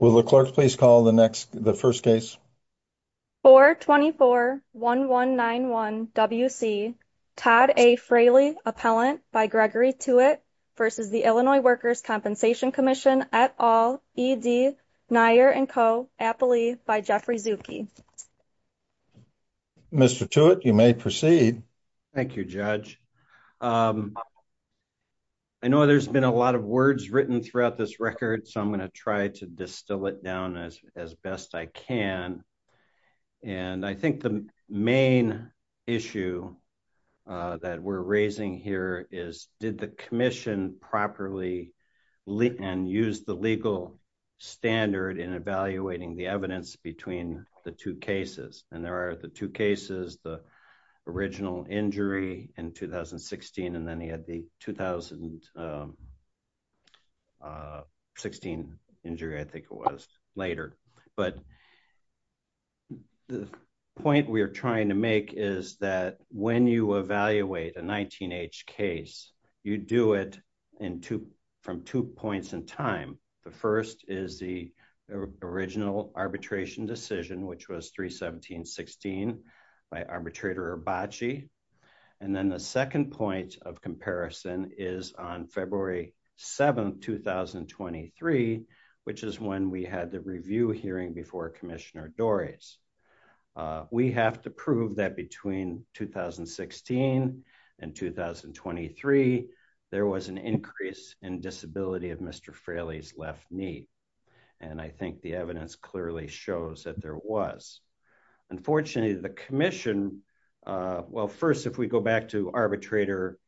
Will the clerks please call the next, the first case? 424-1191-WC, Todd A. Fraley, Appellant by Gregory Tewitt v. Illinois Workers' Compensation Comm'n, et al., E.D., Nyer & Co., Appley, by Jeffrey Zucke. Mr. Tewitt, you may proceed. Thank you, Judge. I know there's been a lot of words written throughout this record, so I'm going to try to distill it down as best I can. And I think the main issue that we're raising here is, did the Commission properly and use the legal standard in evaluating the evidence between the two cases? And there are the two cases, the original injury in 2016, and then he had the 2016 injury, I think it was, later. But the point we are trying to make is that when you evaluate a 19-H case, you do it from two points in time. The first is the original arbitration decision, which was 3-17-16, by Arbitrator Abbaci. And then the second point of comparison is on February 7th, 2023, which is when we had the review hearing before Commissioner Dorries. We have to prove that between 2016 and 2023, there was an increase in disability of Mr. Fraley's left knee. And I think the evidence clearly shows that there was. Unfortunately, the Commission, well, first, if we go back to Arbitrator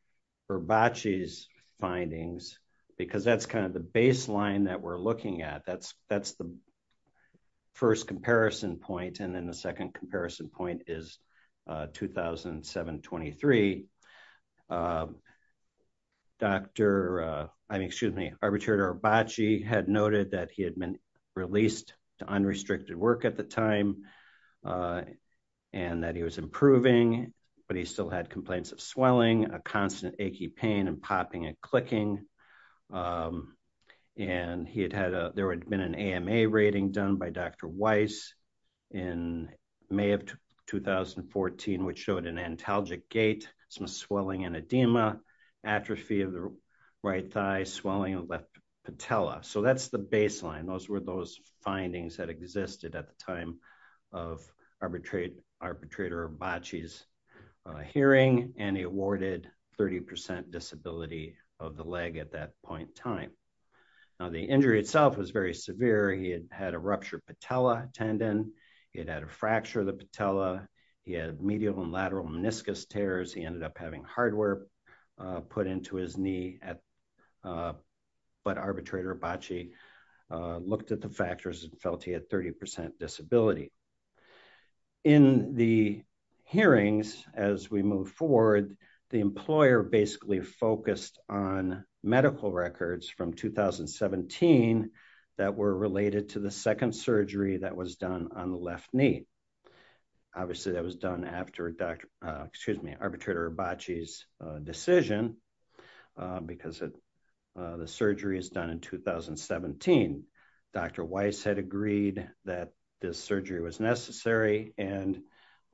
Abbaci's findings, because that's kind of the baseline that we're looking at. That's the first comparison point. And then the second comparison point is 2007-23. Arbitrator Abbaci had noted that he had been released to unrestricted work at the time, and that he was improving, but he still had complaints of swelling, a constant achy pain, and popping and clicking. And there had been an AMA rating done by Dr. Weiss in May of 2014, which showed an antalgic gait, some swelling and edema, atrophy of the right thigh, swelling of the left patella. So that's the baseline. Those were those findings that existed at the time of Arbitrator Abbaci's hearing. And he awarded 30% disability of the leg at that point in time. Now, the injury itself was very severe. He had had a ruptured patella tendon. He had had a fracture of the patella. He had medial and lateral meniscus tears. He ended up having hardware put into his knee. But Arbitrator Abbaci looked at the factors and felt he had 30% disability. In the hearings, as we move forward, the employer basically focused on medical records from 2017 that were related to the second surgery that was done on the left knee. Obviously, that was done after Arbitrator Abbaci's decision, because the surgery was done in 2017. Dr. Weiss had agreed that this surgery was necessary and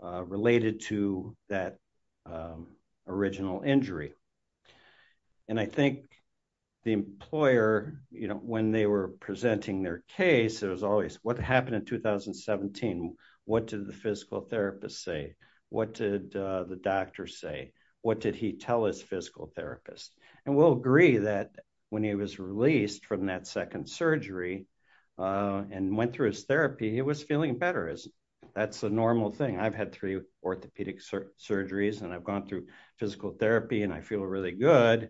related to that original injury. And I think the employer, when they were presenting their case, there was always, what happened in 2017? What did the physical therapist say? What did the doctor say? What did he tell his physical therapist? And we'll agree that when he was released from that second surgery and went through his therapy, he was feeling better. That's a normal thing. I've had three orthopedic surgeries, and I've gone through physical therapy, and I feel really good.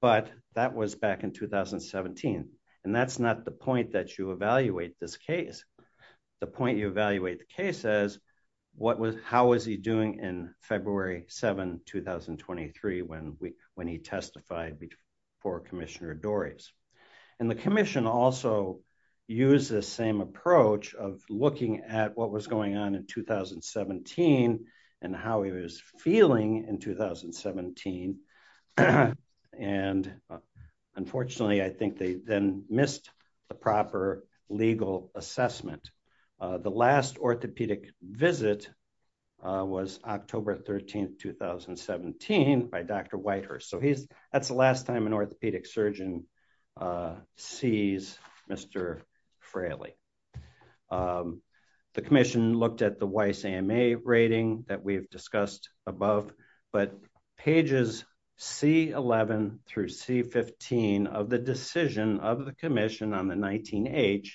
But that was back in 2017. And that's not the point that you evaluate this case. The point you evaluate the case is, how was he doing in February 7, 2023, when he testified before Commissioner Dorries? And the commission also used the same approach of looking at what was going on in 2017 and how he was feeling in 2017. And unfortunately, I think they then missed the proper legal assessment. The last orthopedic visit was October 13, 2017, by Dr. Whitehurst. So that's the last time an orthopedic surgeon sees Mr. Fraley. The commission looked at the Weiss AMA rating that we've discussed above. But pages C11 through C15 of the decision of the commission on the 19H,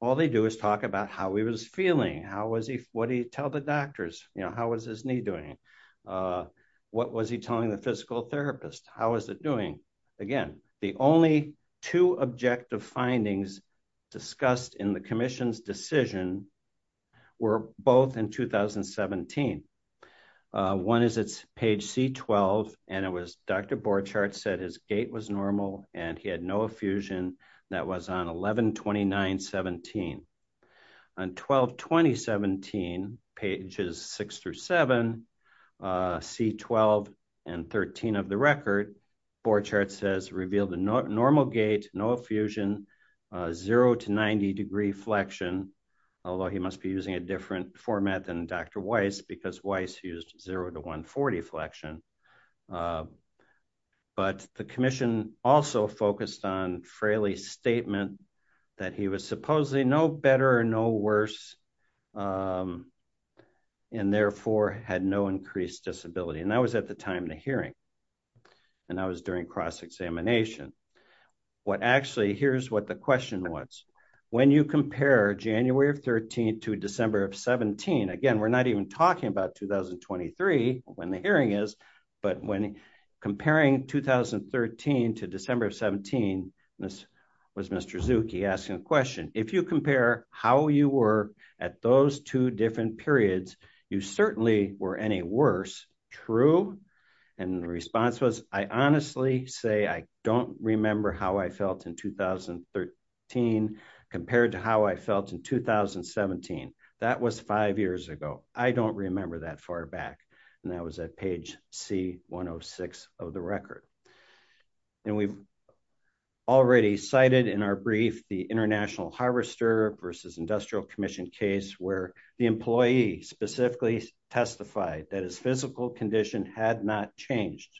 all they do is talk about how he was feeling. How was he? What did he tell the doctors? How was his knee doing? What was he telling the physical therapist? How was it doing? Again, the only two objective findings discussed in the commission's decision were both in 2017. One is it's page C12, and it was Dr. Borchardt said his gait was normal and he had no effusion. That was on 11-29-17. On 12-20-17, pages 6 through 7, C12 and 13 of the record, Borchardt says revealed a normal gait, no effusion, 0 to 90 degree flexion. Although he must be using a different format than Dr. Weiss, because Weiss used 0 to 140 flexion. But the commission also focused on Fraley's statement that he was supposedly no better or no worse, and therefore had no increased disability. And that was at the time of the hearing. And that was during cross-examination. Here's what the question was. When you compare January of 13 to December of 17, again, we're not even talking about 2023, when the hearing is, but when comparing 2013 to December of 17, this was Mr. Zucke asking the question, if you compare how you were at those two different periods, you certainly were any worse. True. And the response was, I honestly say, I don't remember how I felt in 2013, compared to how I felt in 2017. That was five years ago. I don't remember that far back. And that was at page C106 of the record. And we've already cited in our brief, the international harvester versus industrial commission case where the employee specifically testified that his physical condition had not changed.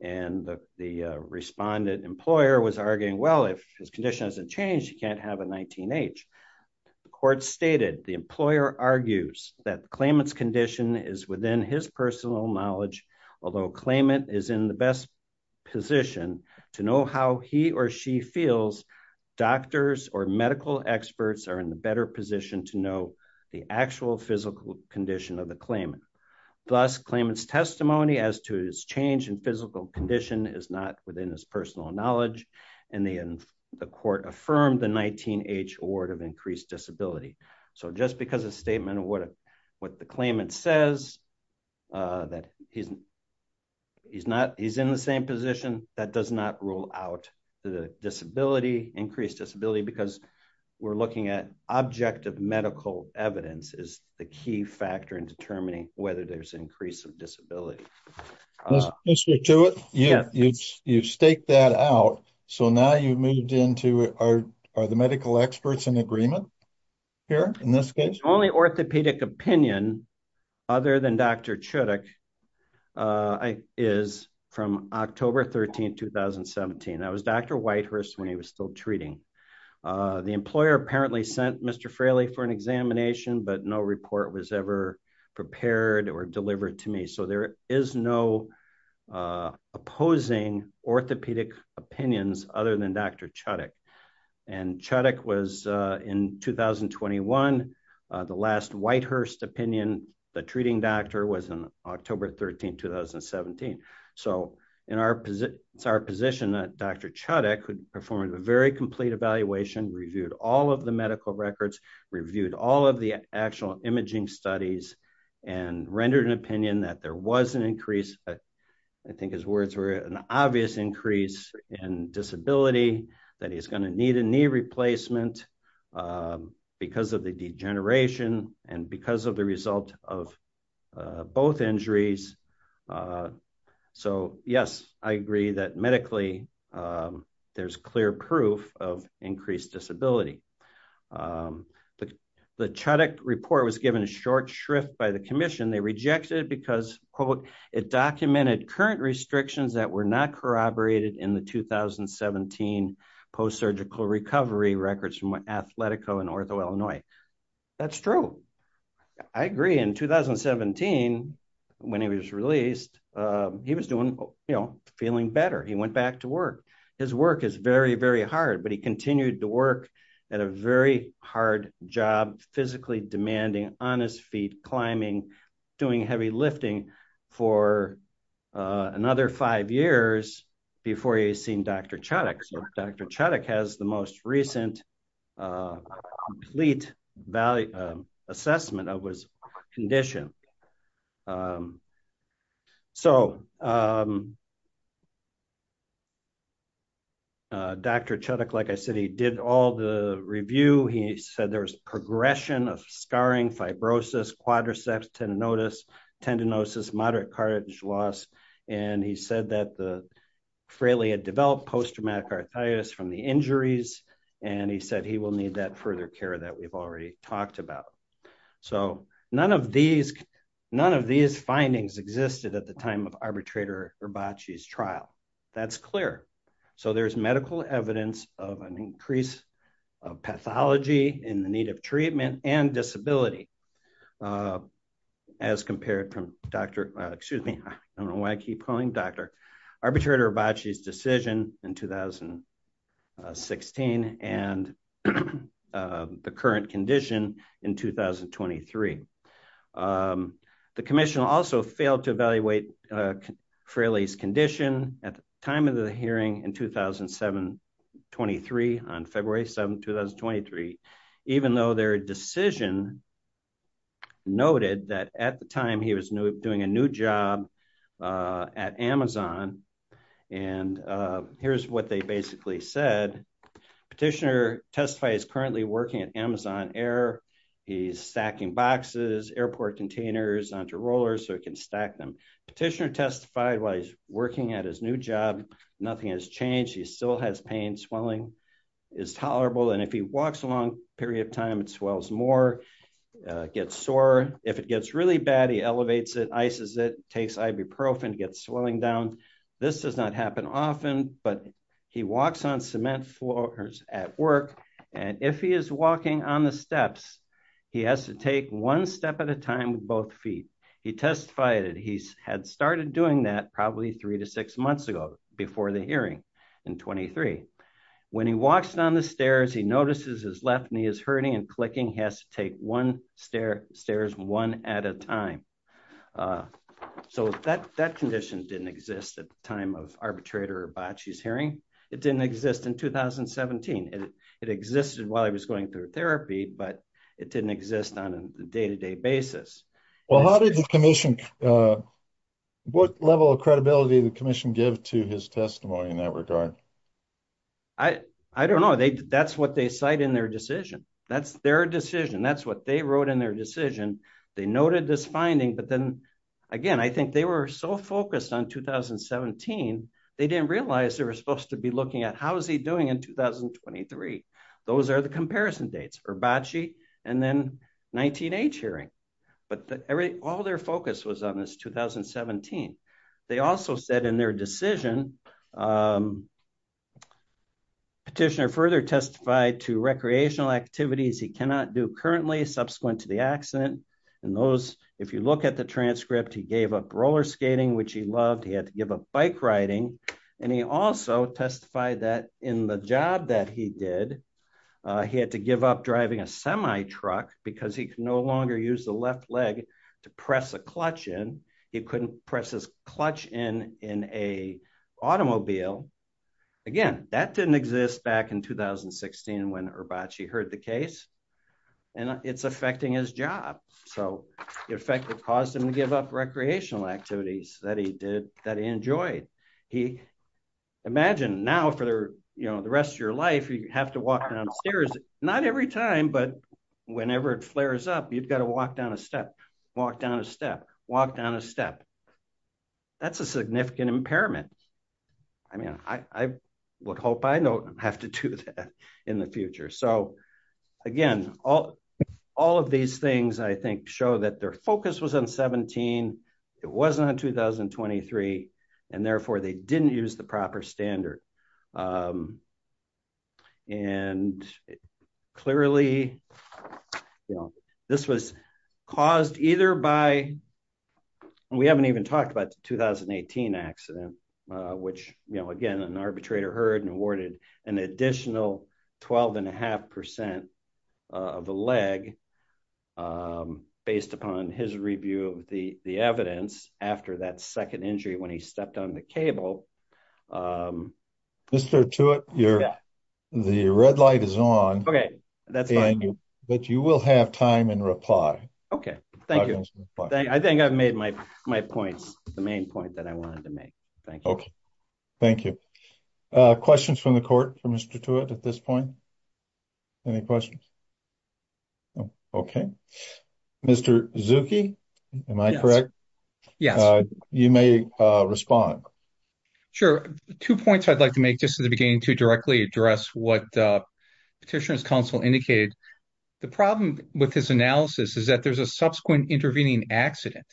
And the respondent employer was arguing, well, if his condition hasn't changed, he can't have a 19H. The court stated the employer argues that the claimant's condition is within his personal knowledge, although claimant is in the best position to know how he or she feels doctors or medical experts are in the better position to know the actual physical condition of the claimant. Thus claimant's testimony as to his change in physical condition is not within his personal knowledge. And the court affirmed the 19H award of increased disability. So just because a statement of what the claimant says, that he's in the same position, that does not rule out the disability, increased disability, because we're looking at objective medical evidence is the key factor in determining whether there's increase of disability. You've staked that out. So now you've moved into, are the medical experts in agreement here in this case? Only orthopedic opinion other than Dr. Chudik is from October 13, 2017. That was Dr. Whitehurst when he was still treating. The employer apparently sent Mr. Fraley for an examination, but no report was ever prepared or delivered to me. So there is no opposing orthopedic opinions other than Dr. Chudik. And Chudik was in 2021. The last Whitehurst opinion, the treating doctor was on October 13, 2017. So it's our position that Dr. Chudik performed a very complete evaluation, reviewed all of the medical records, reviewed all of the actual imaging studies, and rendered an opinion that there was an increase. I think his words were an obvious increase in disability, that he's going to need a knee replacement because of the degeneration and because of the result of both injuries. So yes, I agree that medically there's clear proof of increased disability. The Chudik report was given a short shrift by the commission. They rejected it because, quote, it documented current restrictions that were not corroborated in the 2017 post-surgical recovery records from Athletico in Ortho, Illinois. That's true. I agree. In 2017, when he was released, he was doing, you know, feeling better. He went back to work. His work is very, very hard, but he continued to work at a very hard job, physically demanding on his feet, climbing, doing heavy lifting for another five years before he's seen Dr. Chudik. So Dr. Chudik has the most recent complete assessment of his condition. So Dr. Chudik, like I said, he did all the review. He said there was progression of scarring, fibrosis, quadriceps, tendinitis, tendinosis, moderate cartilage loss, and he said that the frailty had developed post-traumatic arthritis from the injuries, and he said he will need that further care that we've already talked about. So none of these findings existed at the time of arbitrator Herbace's trial. That's clear. So there's medical evidence of an increase of pathology in the need of treatment and disability as compared from Dr. I don't know why I keep calling him Dr. Arbitrator Herbace's decision in 2016 and the current condition in 2023. The commission also failed to evaluate Fraley's condition at the time of the hearing in 2007-23 on February 7, 2023, even though their decision noted that at the time he was doing a new job at Amazon, and here's what they basically said. Petitioner testified he's currently working at Amazon Air. He's stacking boxes, airport containers onto rollers so he can stack them. Petitioner testified while he's working at his new job, nothing has changed. He still has pain. Swelling is tolerable, and if he walks a long period of time, it swells more, gets sore. If it gets really bad, he elevates it, ices it, takes ibuprofen, gets swelling down. This does not happen often, but he walks on cement floors at work, and if he is walking on the steps, he has to take one step at a time with both feet. He testified he had started doing that probably three to six months ago before the hearing in 2023. When he walks down the stairs, he notices his left knee is hurting and clicking. He has to take one stair, stairs one at a time. So that condition didn't exist at the time of Arbitrator Herbace's hearing. It didn't exist in 2017. It existed while he was going through therapy, but it didn't exist on a day-to-day basis. What level of credibility did the commission give to his testimony in that regard? I don't know. That's what they cite in their decision. That's their decision. That's what they wrote in their decision. They noted this finding, but then again, I think they were so focused on 2017, they didn't realize they were supposed to be looking at how is he doing in 2023. Those are the comparison dates, Herbace and then 19-H hearing, but all their focus was on this 2017. They also said in their decision, Petitioner further testified to recreational activities he cannot do currently subsequent to the accident, and those, if you look at the transcript, he gave up roller skating, which he loved. He had to give up bike riding, and he also testified that in the job that he did, he had to give up driving a semi-truck because he could no longer use the left leg to press a clutch in. He couldn't press his clutch in in an automobile. Again, that didn't exist back in 2016 when Herbace heard the case, and it's affecting his job. It effectively caused him to give up recreational activities that he enjoyed. Imagine now for the rest of your life, you have to walk downstairs, not every time, but whenever it flares up, you've got to walk down a step, walk down a step, walk down a step. That's a significant impairment. I would hope I don't have to do that in the future. Again, all of these things, I think, show that their focus was on 2017. It wasn't on 2023, and therefore, they didn't use the proper standard. Clearly, this was caused either by, we haven't even talked about the 2018 accident, which again, an arbitrator heard and awarded an additional 12 and a half percent of a leg based upon his review of the evidence after that second injury when he stepped on the cable. Mr. Tewitt, the red light is on, but you will have time and reply. Okay, thank you. I think I've made my points, the main point that I wanted to make. Okay, thank you. Questions from the court for Mr. Tewitt at this point? Any questions? Okay. Mr. Zucke, am I correct? Yes. You may respond. Sure. Two points I'd like to make just at the beginning to directly address what Petitioner's Counsel indicated. The problem with his analysis is that there's a subsequent intervening accident.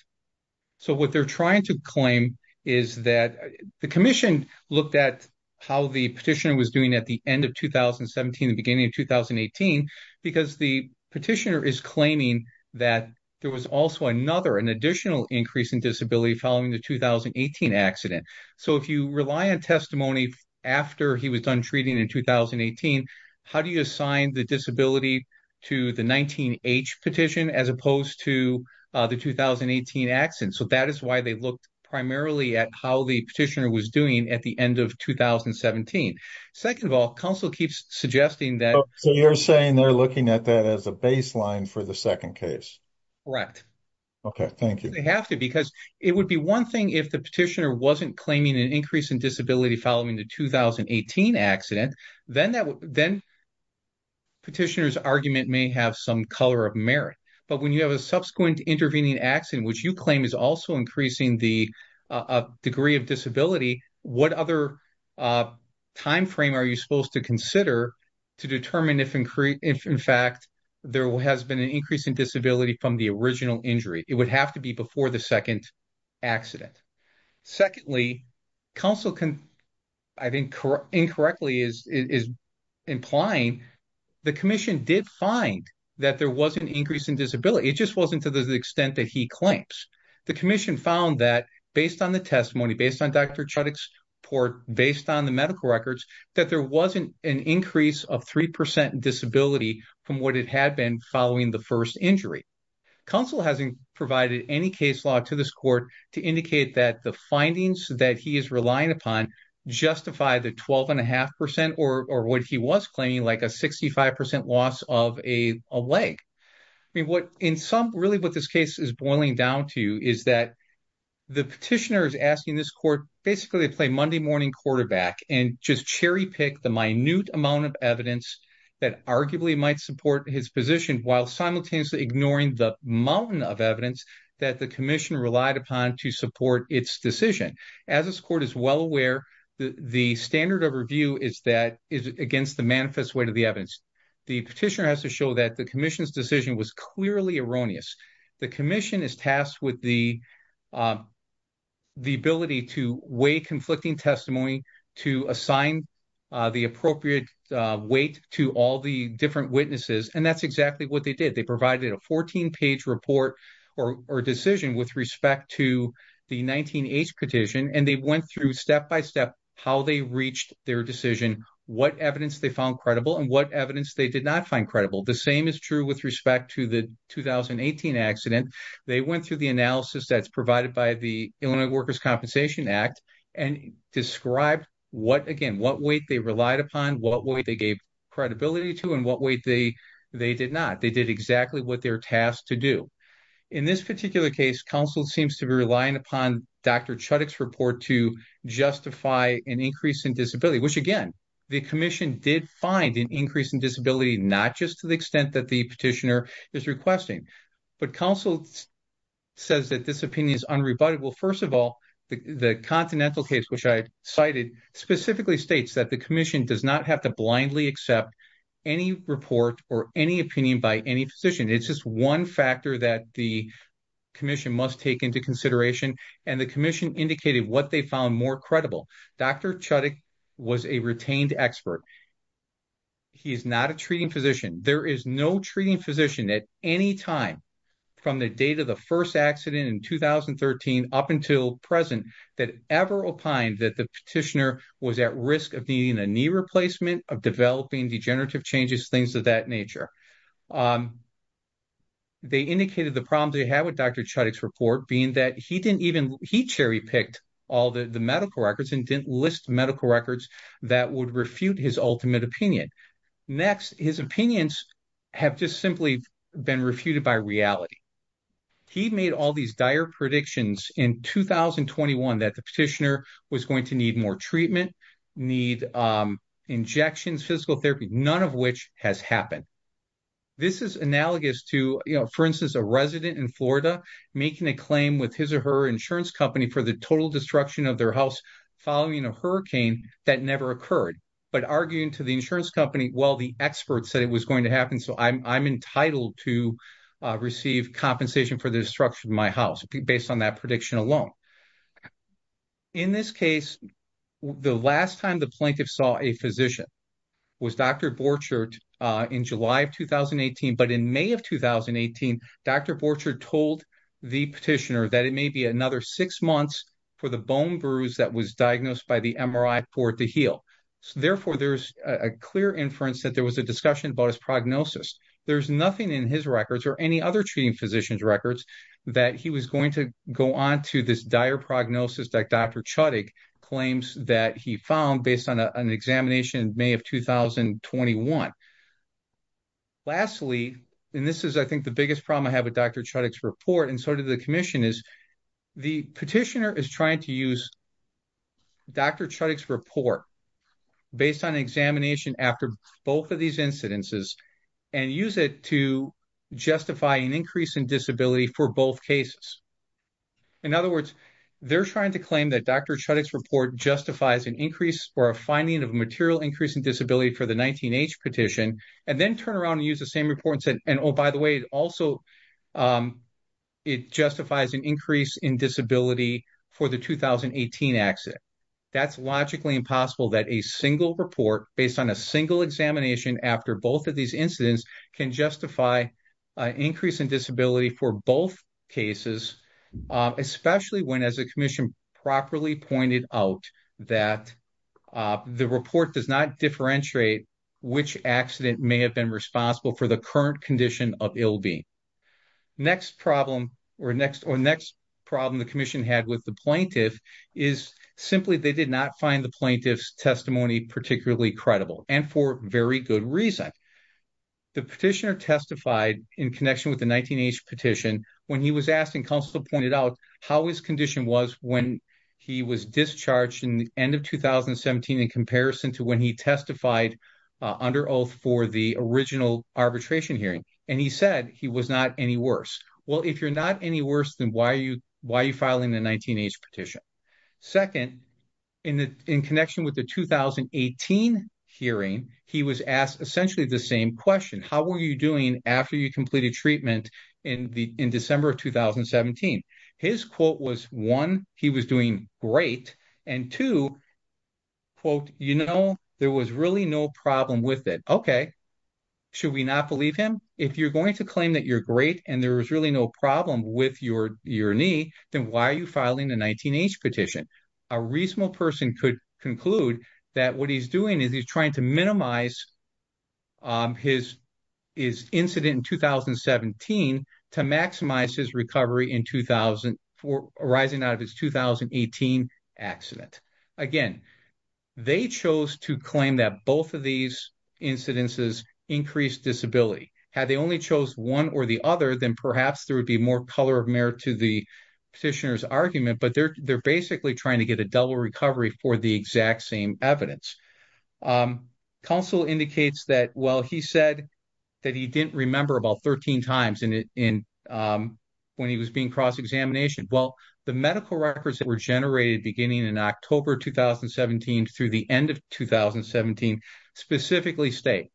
What they're trying to claim is that the commission looked at how the petitioner was doing at the end of 2017, the beginning of 2018, because the petitioner is claiming that there was also another, an additional increase in disability following the 2018 accident. If you rely on testimony after he was done treating in 2018, how do you assign the disability to the 19-H petition as opposed to the 2018 accident? So that is why they looked primarily at how the petitioner was doing at the end of 2017. Second of all, Counsel keeps suggesting that- So you're saying they're looking at that as a baseline for the second case? Correct. Okay, thank you. They have to, because it would be one thing if the petitioner wasn't claiming an increase in disability following the 2018 accident, then Petitioner's argument may have some color of merit. But when you have a subsequent intervening accident, which you claim is also increasing the degree of disability, what other time frame are you supposed to consider to determine if, in fact, there has been an increase in disability from the original injury? It would have to be before the second accident. Secondly, Counsel, I think, incorrectly is implying the Commission did find that there was an increase in disability. It just wasn't to the extent that he claims. The Commission found that, based on the testimony, based on Dr. Chudik's report, based on the medical records, that there wasn't an increase of 3% disability from what it had been following the first injury. Counsel hasn't provided any case law to this court to indicate that the findings that he is relying upon justify the 12.5% or what he was claiming, like a 65% loss of a leg. Really, what this case is boiling down to is that the petitioner is asking this court, basically, to play Monday morning quarterback and just cherry-pick the minute amount of that arguably might support his position while simultaneously ignoring the mountain of evidence that the Commission relied upon to support its decision. As this court is well aware, the standard of review is against the manifest weight of the evidence. The petitioner has to show that the Commission's decision was clearly erroneous. The Commission is tasked with the ability to weigh conflicting testimony, to assign the appropriate weight to all the different witnesses, and that's exactly what they did. They provided a 14-page report or decision with respect to the 19-H petition, and they went through step-by-step how they reached their decision, what evidence they found credible, and what evidence they did not find credible. The same is true with respect to the 2018 accident. They went through the analysis that's provided by the Illinois Workers' Compensation Act and described, again, what weight they relied upon, what weight they gave credibility to, and what weight they did not. They did exactly what they're tasked to do. In this particular case, counsel seems to be relying upon Dr. Chudik's report to justify an increase in disability, which, again, the Commission did find an increase in disability, not just to the extent that the petitioner is requesting. But counsel says that this opinion is unrebutted. First of all, the Continental case, which I cited, specifically states that the Commission does not have to blindly accept any report or any opinion by any physician. It's just one factor that the Commission must take into consideration, and the Commission indicated what they found more credible. Dr. Chudik was a retained expert. He's not a treating physician. There is no treating physician at any time from the date of the first accident in 2013 up until present that ever opined that the petitioner was at risk of needing a knee replacement, of developing degenerative changes, things of that nature. They indicated the problems they had with Dr. Chudik's report being that he cherry-picked all the medical records and didn't list medical records that would refute his ultimate opinion. Next, his opinions have just simply been refuted by reality. He made all these dire predictions in 2021 that the petitioner was going to need more treatment, need injections, physical therapy, none of which has happened. This is analogous to, for instance, a resident in Florida making a claim with his or her insurance company for the total destruction of their house following a hurricane that never occurred, but arguing to the insurance company, well, the expert said it was going to happen, so I'm entitled to receive compensation for the destruction of my house, based on that prediction alone. In this case, the last time the plaintiff saw a physician was Dr. Borchardt in July of 2018, but in May of 2018, Dr. Borchardt told the petitioner that it may be another six months for the bone bruise that was diagnosed by the MRI for it to heal. Therefore, there's a clear inference that there was a discussion about his prognosis. There's nothing in his records or any other treating physician's records that he was going to go on to this dire prognosis that Dr. Chudik claims that he found based on an examination in May of 2021. Lastly, and this is, I think, the biggest problem I have with Dr. Chudik's report and the commission, is the petitioner is trying to use Dr. Chudik's report based on an examination after both of these incidences and use it to justify an increase in disability for both cases. In other words, they're trying to claim that Dr. Chudik's report justifies an increase or a finding of a material increase in disability for the 19-H petition, and then turn around and use the same report and say, oh, by the way, also, it justifies an increase in disability for the 2018 accident. That's logically impossible that a single report based on a single examination after both of these incidents can justify an increase in disability for both cases, especially when, as the commission properly pointed out, that the report does not differentiate which accident may have been responsible for the current condition of ill-being. Next problem, or next problem the commission had with the plaintiff is simply they did not find the plaintiff's testimony particularly credible, and for very good reason. The petitioner testified in connection with the 19-H petition when he was asked and counsel pointed out how his condition was when he was discharged in the end of 2017 in comparison to when he testified under oath for the original arbitration hearing, and he said he was not any worse. Well, if you're not any worse, then why are you filing the 19-H petition? Second, in connection with the 2018 hearing, he was asked essentially the same question. How were you doing after you completed treatment in December of 2017? His quote was, one, he was doing great, and two, quote, you know, there was really no problem with it. Okay. Should we not believe him? If you're going to claim that you're great and there was really no problem with your knee, then why are you filing the 19-H petition? A reasonable person could conclude that what he's doing is he's trying to minimize his incident in 2017 to maximize his recovery in 2000 for arising out of his 2018 accident. Again, they chose to claim that both of these incidences increased disability. Had they only chose one or the other, then perhaps there would be more color of merit to the petitioner's argument, but they're basically trying to get a double recovery for the exact same evidence. Counsel indicates that, well, he said that he didn't remember about 13 times when he was being cross-examined. Well, the medical records that were generated beginning in October 2017 through the end of 2017 specifically state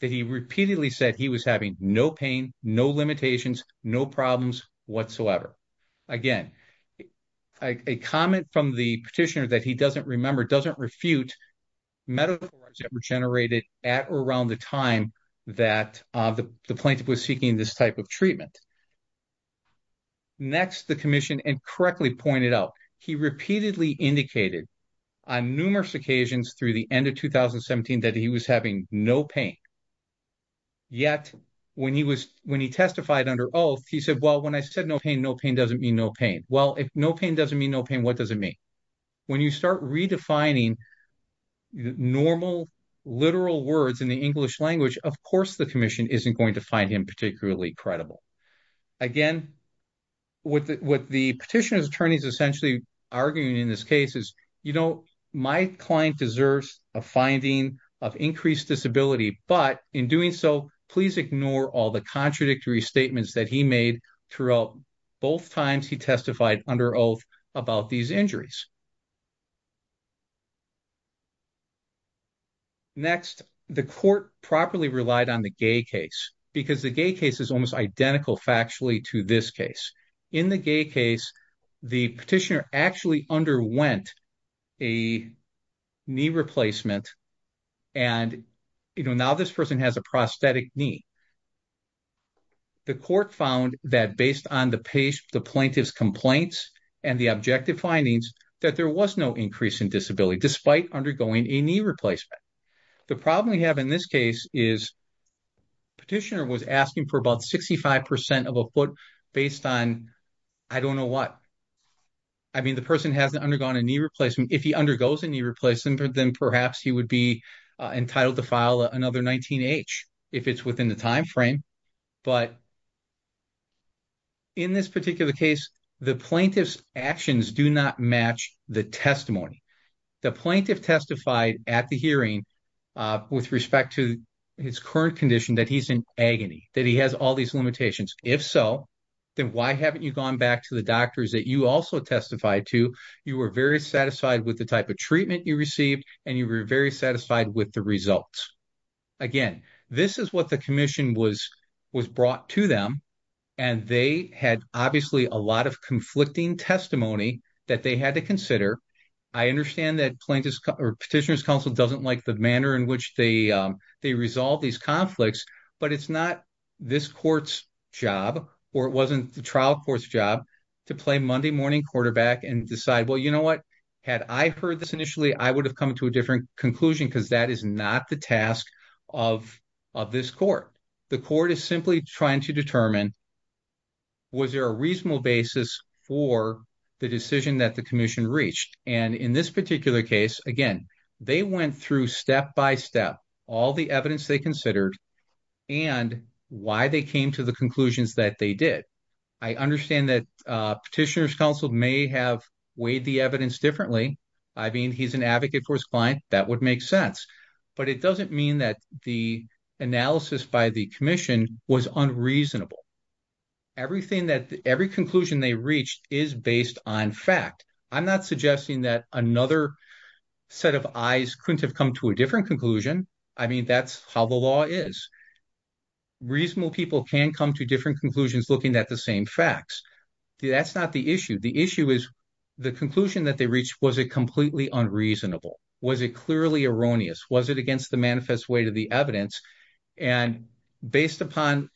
that he repeatedly said he was having no pain, no limitations, no problems whatsoever. Again, a comment from the petitioner that he doesn't remember, doesn't refute metaphors that were generated at or around the time that the plaintiff was seeking this type of Next, the commission incorrectly pointed out he repeatedly indicated on numerous occasions through the end of 2017 that he was having no pain, yet when he testified under oath, he said, well, when I said no pain, no pain doesn't mean no pain. Well, if no pain doesn't mean no pain, what does it mean? When you start redefining normal, literal words in the English language, of course, the commission isn't going to find him particularly credible. Again, what the petitioner's attorneys essentially arguing in this case is, you know, my client deserves a finding of increased disability, but in doing so, please ignore all the contradictory statements that he made throughout both times he testified under oath about these injuries. Next, the court properly relied on the Gay case because the Gay case is almost identical factually to this case. In the Gay case, the petitioner actually underwent a knee replacement and, you know, now this has a prosthetic knee. The court found that based on the plaintiff's complaints and the objective findings, that there was no increase in disability despite undergoing a knee replacement. The problem we have in this case is the petitioner was asking for about 65 percent of a foot based on I don't know what. I mean, the person hasn't undergone a knee replacement. If he undergoes a knee replacement, then perhaps he would be entitled to file another 19H if it's within the time frame. But in this particular case, the plaintiff's actions do not match the testimony. The plaintiff testified at the hearing with respect to his current condition that he's in agony, that he has all these limitations. If so, then why haven't you gone back to the doctors that you also testified to? You were very satisfied with the type of treatment you received, and you were very satisfied with the results. Again, this is what the commission was brought to them, and they had obviously a lot of conflicting testimony that they had to consider. I understand that Petitioner's Counsel doesn't like the manner in which they resolve these conflicts, but it's not this court's job, or it wasn't the trial court's job, to play Monday morning quarterback and decide, well, you know what, had I heard this initially, I would have come to a different conclusion because that is not the task of this court. The court is simply trying to determine, was there a reasonable basis for the decision that the commission reached? And in this particular case, again, they went through step-by-step all the evidence they considered and why they came to the conclusions that they did. I understand that Petitioner's Counsel may have weighed the evidence differently. I mean, he's an advocate for his client. That would make sense. But it doesn't mean that the analysis by the commission was unreasonable. Every conclusion they reached is based on fact. I'm not suggesting that another set of eyes couldn't have come to a different conclusion. I mean, that's how the law is. Reasonable people can come to different conclusions looking at the same facts. That's not the issue. The issue is the conclusion that they reached. Was it completely unreasonable? Was it clearly erroneous? Was it against the manifest weight of the evidence? And based upon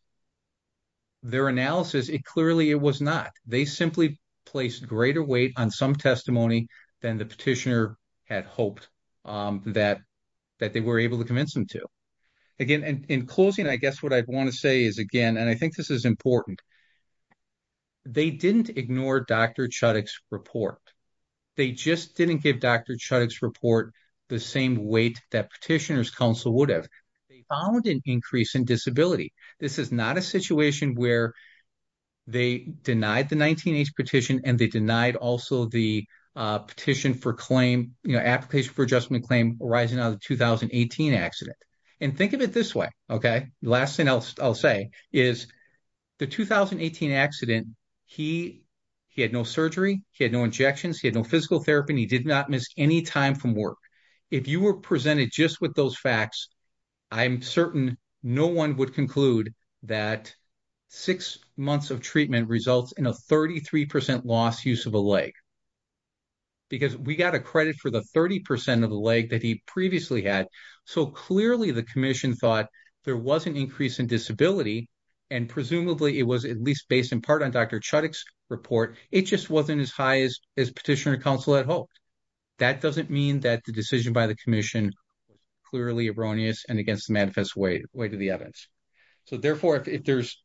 their analysis, it clearly was not. They simply placed greater weight on some testimony than the petitioner had hoped that they were able to convince them to. Again, in closing, I guess what I want to say is, again, and I think this is important, they didn't ignore Dr. Chudik's report. They just didn't give Dr. Chudik's report the same weight that Petitioner's Counsel would have. They found an increase in disability. This is not a situation where they denied the 19-H petition and they denied also the petition for claim, you know, application for adjustment claim arising out of the 2018 accident. Think of it this way, okay? Last thing I'll say is the 2018 accident, he had no surgery, he had no injections, he had no physical therapy, and he did not miss any time from work. If you were presented just with those facts, I'm certain no one would conclude that six months of treatment results in a 33% loss use of a leg. Because we got a credit for the 30% of the leg that he previously had. So clearly the Commission thought there was an increase in disability, and presumably it was at least based in part on Dr. Chudik's report. It just wasn't as high as Petitioner's Counsel had hoped. That doesn't mean that the decision by the Commission clearly erroneous and against the manifest way to the evidence. So therefore, if there's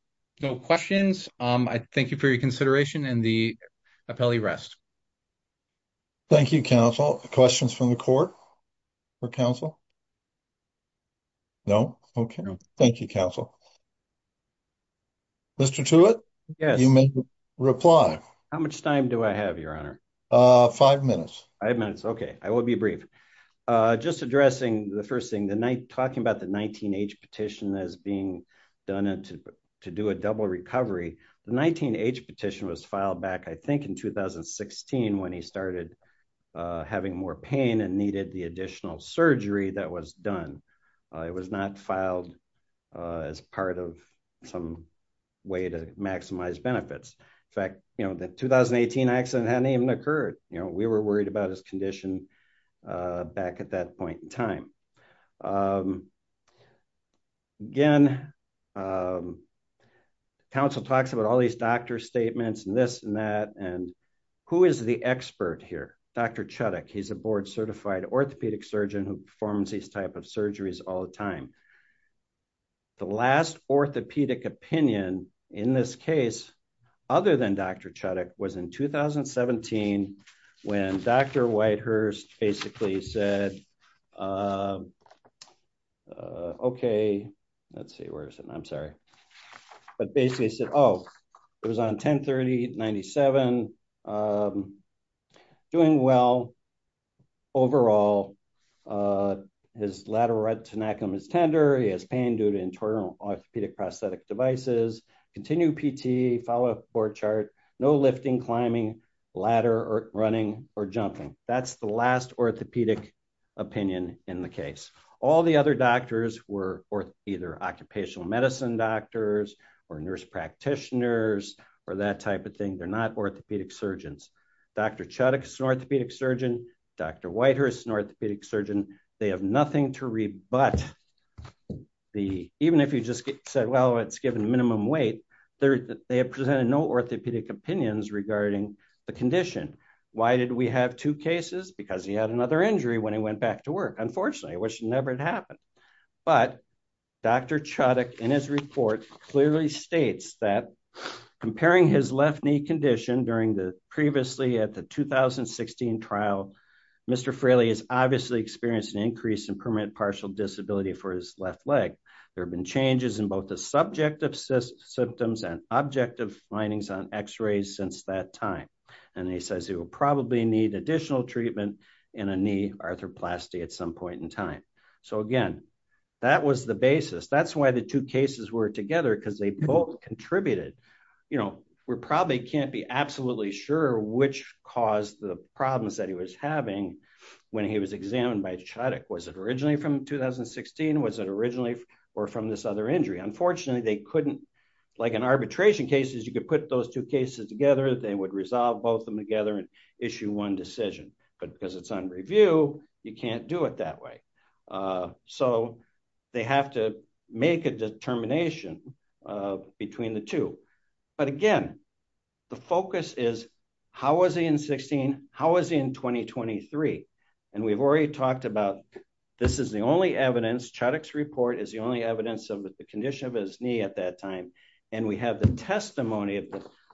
no questions, I thank you for your consideration and the appellee rest. Thank you, counsel. Questions from the court for counsel? No, okay. Thank you, counsel. Mr. Tewitt? You may reply. How much time do I have, your honor? Five minutes. Five minutes, okay. I will be brief. Just addressing the first thing, the night talking about the 19-H petition as being done to do a double recovery. The 19-H petition was filed back, I think in 2016 when he started having more pain and needed the additional surgery that was done. It was not filed as part of some way to maximize benefits. In fact, the 2018 accident hadn't even occurred. We were worried about his condition back at that point in time. Again, counsel talks about all these doctor statements and this and that, and who is the expert here? Dr. Chudik. He's a board-certified orthopedic surgeon who performs these type of surgeries all the time. The last orthopedic opinion in this case, other than Dr. Chudik, was in 2017 when Dr. Whitehurst basically said, okay, let's see, where is it? I'm sorry. But basically he said, oh, it was on 10-30-97, doing well overall. His lateral retinaculum is tender. He has pain due to internal orthopedic prosthetic devices, continued PT, follow-up board chart, no lifting, climbing, ladder, or running, or jumping. That's the last orthopedic opinion in the case. All the other doctors were either occupational medicine doctors or nurse practitioners or that type of thing. They're not orthopedic surgeons. Dr. Chudik is an orthopedic surgeon. Dr. Whitehurst is an orthopedic surgeon. They have nothing to rebut. Even if you just said, well, it's given minimum weight, they have presented no orthopedic opinions regarding the condition. Why did we have two cases? Because he had another injury when he went back to work, unfortunately, which never had happened. But Dr. Chudik, in his report, clearly states that comparing his left knee condition during the previously at the 2016 trial, Mr. Fraley has obviously experienced an increase in permanent partial disability for his left leg. There have been changes in both the subjective symptoms and objective findings on x-rays since that time. And he says he will probably need additional treatment in a knee arthroplasty at some point in time. So again, that was the basis. That's why the two cases were together because they both contributed. We probably can't be absolutely sure which caused the problems that he was having when he was examined by Chudik. Was it originally from 2016? Was it originally or from this other injury? Unfortunately, they couldn't, like in arbitration cases, you could put those two cases together, they would resolve both of them together and issue one decision. But because it's on review, you can't do it that way. So they have to make a determination between the two. But again, the focus is how was he in 16? How was he in 2023? And we've already talked about this is the only evidence, Chudik's report is the only evidence of the condition of his knee at that time. And we have the testimony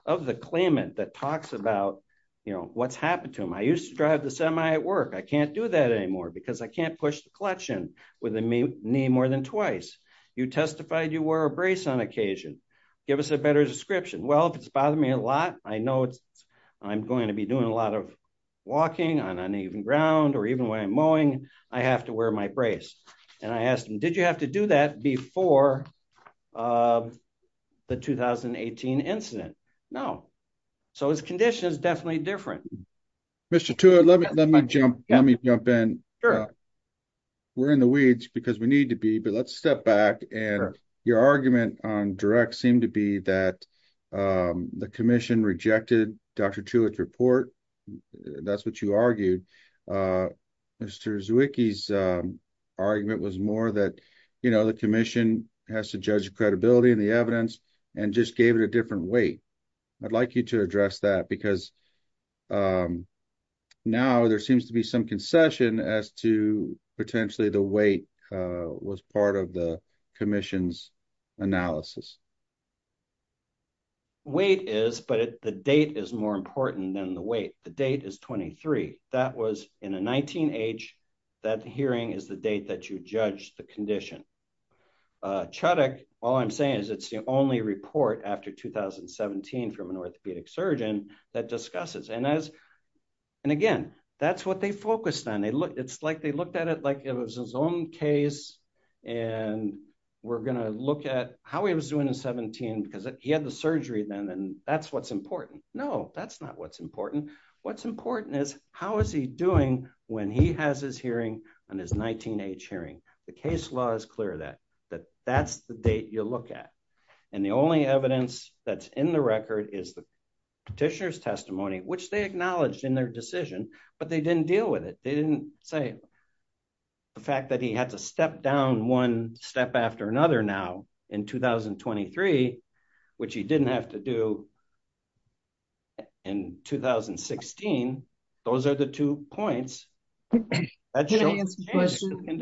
of the claimant that talks about, you know, what's happened to him. I used to drive the semi at work. I can't do that anymore because I can't push the clutch in with a knee more than twice. You testified you wore a brace on occasion. Give us a better description. Well, if it's bothering me a lot, I know I'm going to be doing a lot of walking on uneven ground, or even when I'm mowing, I have to wear my brace. And I asked him, did you have to do that before the 2018 incident? No. So his condition is definitely different. Mr. Tewitt, let me jump in. We're in the weeds because we need to be, but let's step back. And your argument on direct seemed to be that the commission rejected Dr. Tewitt's report. That's what you argued. Mr. Zwicky's argument was more that, you know, the commission has to judge the credibility and the evidence and just gave it a different weight. I'd like you to address that because now there seems to be some concession as to potentially the weight was part of the commission's analysis. Weight is, but the date is more important than the weight. The date is 23. That was in a 19 age. That hearing is the date that you judged the condition. Chudick, all I'm saying is it's the only report after 2017 from an orthopedic surgeon that discusses. And as, and again, that's what they focused on. It's like, they looked at it like it was his own case and we're going to look at how he was doing in 17 because he had the surgery then. And that's what's important. No, that's not what's important. What's important is how is he doing when he has his hearing on his 19 age hearing? The case law is clear that that's the date you look at. And the only evidence that's in the record is the petitioner's testimony, which they acknowledged in their decision, but they didn't deal with it. They didn't say the fact that he had to step down one step after another now in 2023, which he didn't have to do in 2016. Those are the two points. Can I ask a question?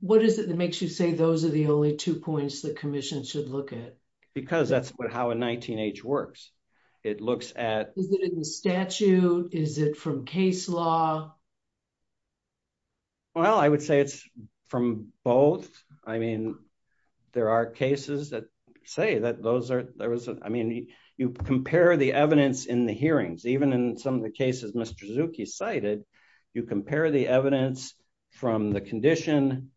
What is it that makes you say those are the only two points the commission should look at? Because that's how a 19 age works. It looks at... Is it in the statute? Is it from case law? Well, I would say it's from both. I mean, there are cases that say that those are... There was... I mean, you compare the evidence in the hearings, even in some of the cases Mr. Suzuki cited, you compare the evidence from the condition.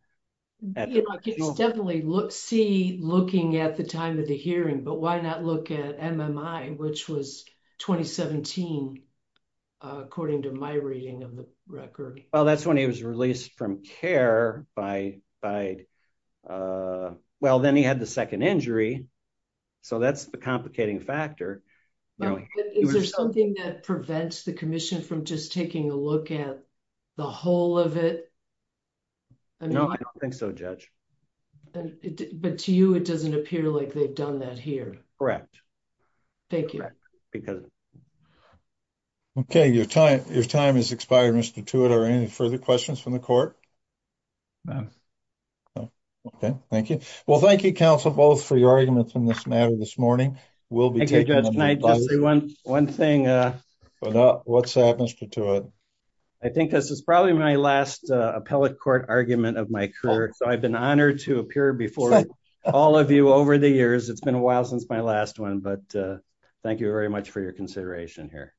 Yeah, I can definitely see looking at the time of the hearing, but why not look at MMI, which was 2017? According to my reading of the record. Well, that's when he was released from care by... Well, then he had the second injury. So that's the complicating factor. Is there something that prevents the commission from just taking a look at the whole of it? No, I don't think so, Judge. But to you, it doesn't appear like they've done that here. Correct. Thank you. Because... Okay, your time has expired, Mr. Tewitt. Are there any further questions from the court? Okay, thank you. Well, thank you, counsel, both for your arguments in this matter this morning. We'll be taking them- Judge, can I just say one thing? What's up, Mr. Tewitt? I think this is probably my last appellate court argument of my career. So I've been honored to appear before all of you over the years. It's been a while since my last one, but thank you very much for your consideration here.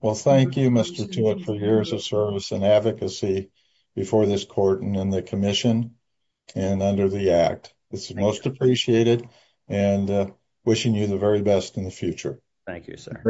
Well, thank you, Mr. Tewitt, for years of service and advocacy before this court and in the commission and under the act. It's most appreciated and wishing you the very best in the future. Thank you, sir.